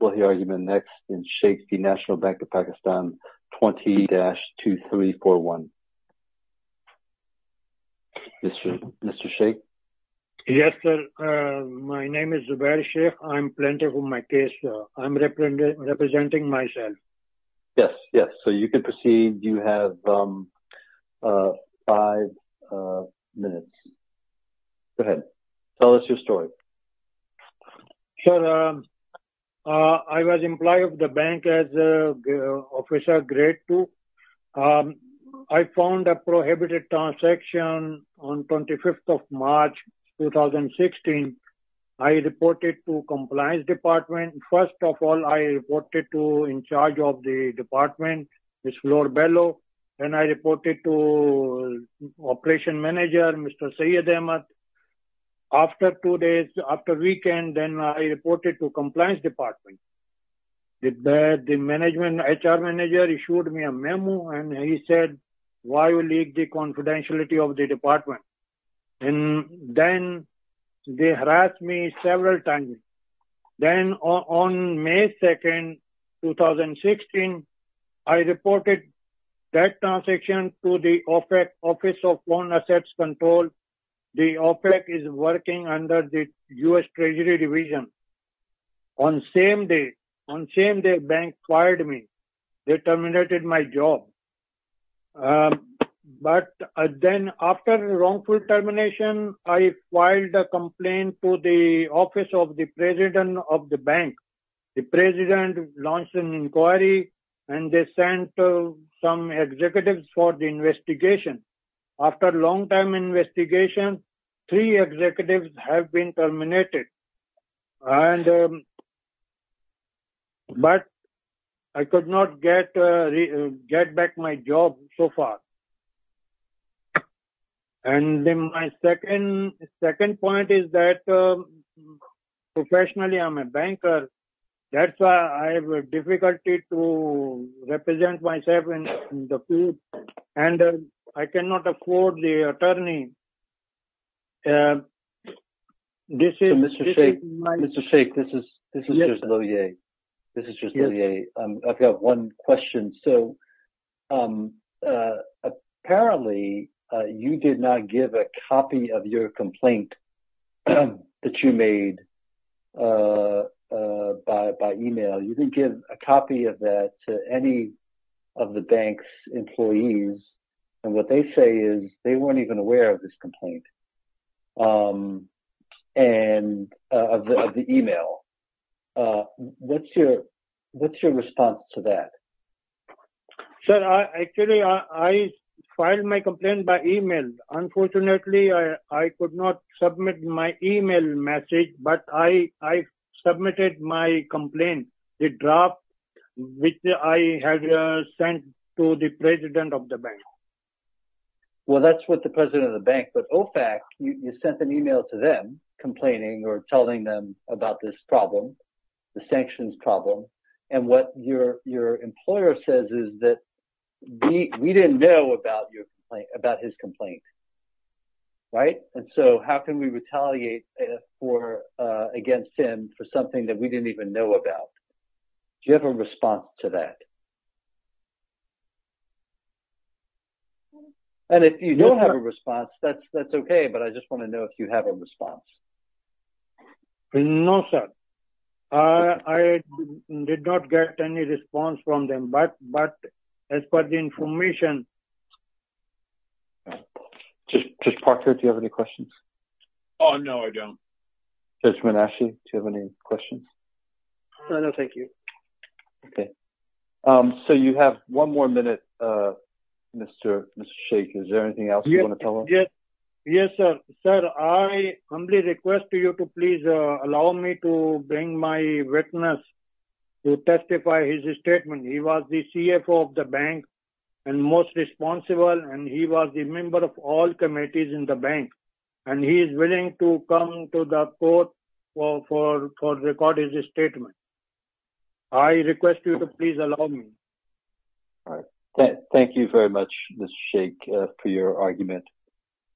20-2341. Mr. Sheikh. Yes, sir. My name is Zubair Sheikh. I'm representing myself. Yes, yes. You can proceed. You have five minutes. Go ahead. Tell us your story. Sure. I was employed at the bank as an officer grade two. I found a prohibited transaction on 25th of March 2016. I reported to the compliance department. First of all, I reported to the department. Then I reported to the operation manager, Mr. Syed Ahmad. After two days, after the weekend, I reported to the compliance department. The HR manager issued me a memo, and he said, why did you leak the confidentiality of the department? Then they harassed me several times. Then on May 2nd, 2016, I reported that transaction to the Office of Foreign Assets Control. The office is working under the U.S. Treasury Division. On the same day, on the same day, the bank fired me. They terminated my job. But then after the wrongful termination, I filed a complaint to the office of the president of the bank. The president launched an inquiry, and they sent some executives for the investigation. After a long time investigation, three executives have been terminated. But I could not get back my job so far. And then my second point is that professionally, I'm a banker. That's why I have difficulty to represent myself in the field. And I cannot afford the attorney. So, Mr. Sheikh, this is just Lohier. I've got one question. So, apparently, you did not give a copy of your complaint that you made by email. You didn't give a copy of that to any of the bank's employees. And what they say is they weren't even aware of this complaint and of the email. What's your response to that? Sir, actually, I filed my complaint by email. Unfortunately, I could not submit my email message. But I submitted my complaint, the draft which I had sent to the president of the bank. Well, that's what the president of the bank. But OFAC, you sent an email to them complaining or telling them about this problem, the sanctions problem. And what your employer says is that we didn't know about his complaint. Right? And so how can we retaliate against him for something that we didn't even know about? Do you have a response to that? And if you don't have a response, that's OK. But I just want to know if you have a response. No, sir. I did not get any response from them. But as far as the information... Judge Parker, do you have any questions? Oh, no, I don't. Judge Manasci, do you have any questions? No, no, thank you. OK. So you have one more minute, Mr. Sheikh. Is there anything else you want to tell us? Yes. Yes, sir. Sir, I humbly request to you to please allow me to bring my witness to testify his statement. He was the CFO of the bank and most responsible. And he was the member of all committees in the bank. And he is willing to come to the court for recording his statement. I request you to please allow me. All right. Thank you very much, Mr. Sheikh, for your argument.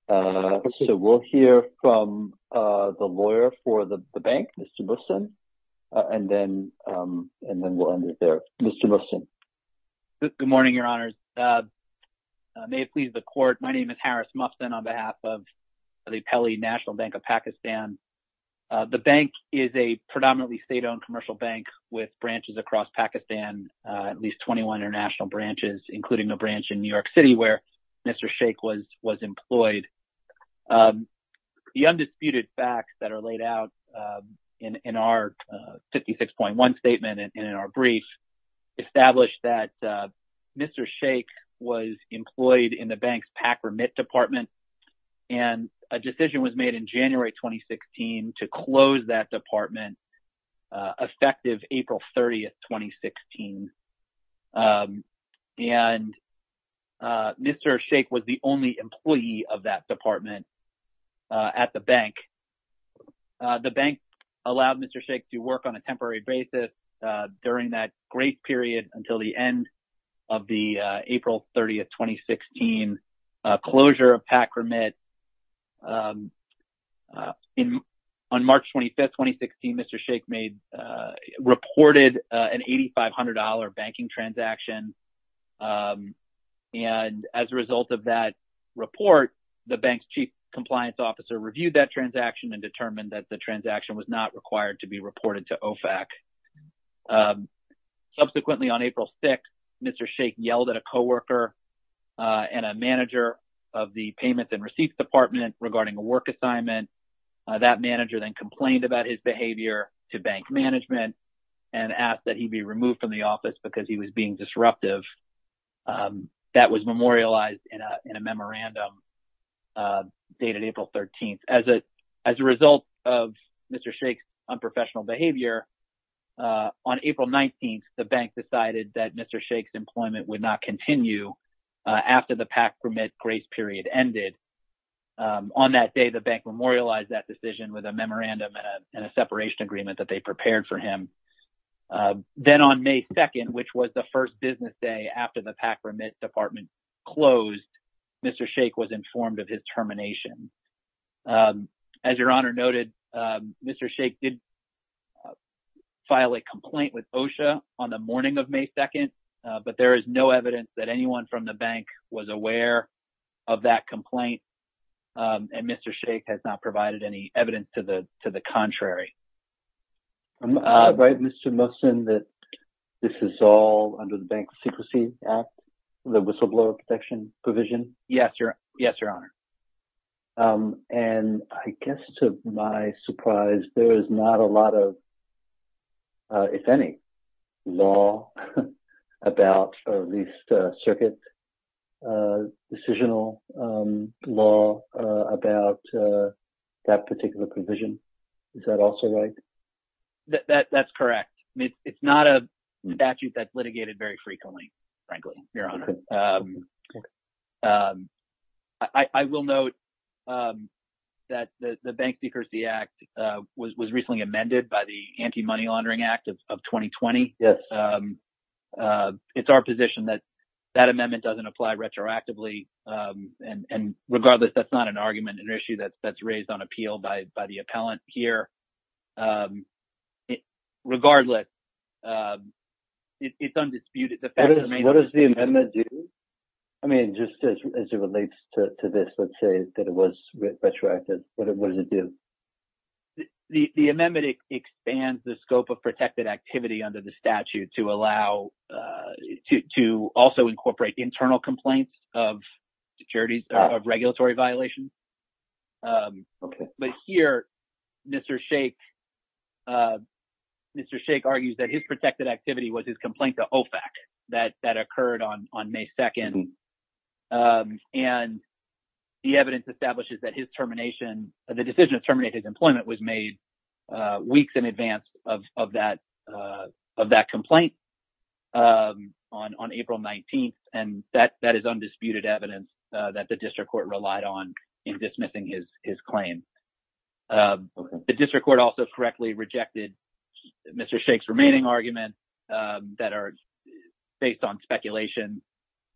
So we'll hear from the lawyer for the bank, Mr. Mufsin, and then we'll end it there. Mr. Mufsin. Good morning, Your Honor. May it please the court. My name is Harris Mufsin on behalf of the Peli National Bank of Pakistan. The bank is a predominantly state-owned commercial bank with branches across Pakistan, at least 21 international branches, including a branch in New York City where Mr. Sheikh was was employed. The undisputed facts that are laid out in our 56.1 statement and in our brief established that Mr. Sheikh was employed in the bank's PAC remit department. And a decision was made in January 2016 to close that department effective April 30th, 2016. And Mr. Sheikh was the only employee of that department at the bank. The bank allowed Mr. Sheikh to work on a temporary basis during that great period until the end of the April 30th, 2016 closure of PAC remit. On March 25th, 2016, Mr. Sheikh made reported an $8,500 banking transaction. And as a result of that report, the bank's chief compliance officer reviewed that transaction and determined that the transaction was not required to be reported to OFAC. Subsequently, on April 6th, Mr. Sheikh yelled at a coworker and a manager of the payments and receipts department regarding a work assignment. That manager then complained about his behavior to bank management and asked that he be removed from the office because he was being disruptive. That was memorialized in a memorandum dated April 13th. As a result of Mr. Sheikh's unprofessional behavior, on April 19th, the bank decided that Mr. Sheikh's employment would not continue after the PAC remit grace period ended. On that day, the bank memorialized that decision with a memorandum and a separation agreement that they prepared for him. Then on May 2nd, which was the first business day after the PAC remit department closed, Mr. Sheikh was informed of his termination. As your honor noted, Mr. Sheikh did file a complaint with OSHA on the morning of May 2nd, but there is no evidence that anyone from the bank was aware of that complaint. And Mr. Sheikh has not provided any evidence to the contrary. Right, Mr. Mohsen, that this is all under the Bank Secrecy Act, the whistleblower protection provision? Yes, your honor. And I guess to my surprise, there is not a lot of, if any, law about, or at least circuit decisional law about that particular provision. Is that also right? That's correct. It's not a statute that's litigated very frequently, frankly, your honor. I will note that the Bank Secrecy Act was recently amended by the Anti-Money Laundering Act of 2020. It's our position that that amendment doesn't apply retroactively. And regardless, that's not an argument, an issue that's raised on appeal by the bank. What does the amendment do? I mean, just as it relates to this, let's say that it was retroactive, what does it do? The amendment expands the scope of protected activity under the statute to allow, to also incorporate internal complaints of securities, of regulatory violations. But here, Mr. Sheikh, Mr. Sheikh argues that his protected activity was his complaint to OFAC, that occurred on May 2nd. And the evidence establishes that his termination, the decision to terminate his employment was made weeks in advance of that complaint on April 19th. And that is undisputed evidence that the district court relied on in dismissing his claim. The district court also correctly rejected Mr. Sheikh's remaining argument that are based on speculation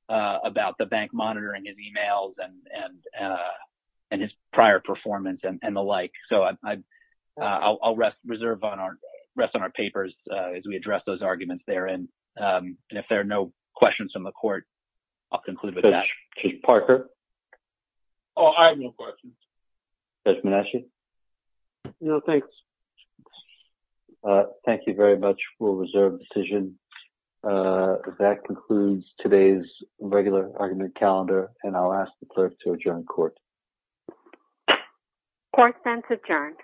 about the bank monitoring his emails and his prior performance and the like. So, I'll rest on our papers as we address those arguments there. And if there are no questions from the court, I'll conclude with that. Chief Parker? Oh, I have no questions. Judge Manasci? No, thanks. Thank you very much for a reserved decision. That concludes today's regular argument calendar, and I'll ask the clerk to adjourn court. Court stands adjourned.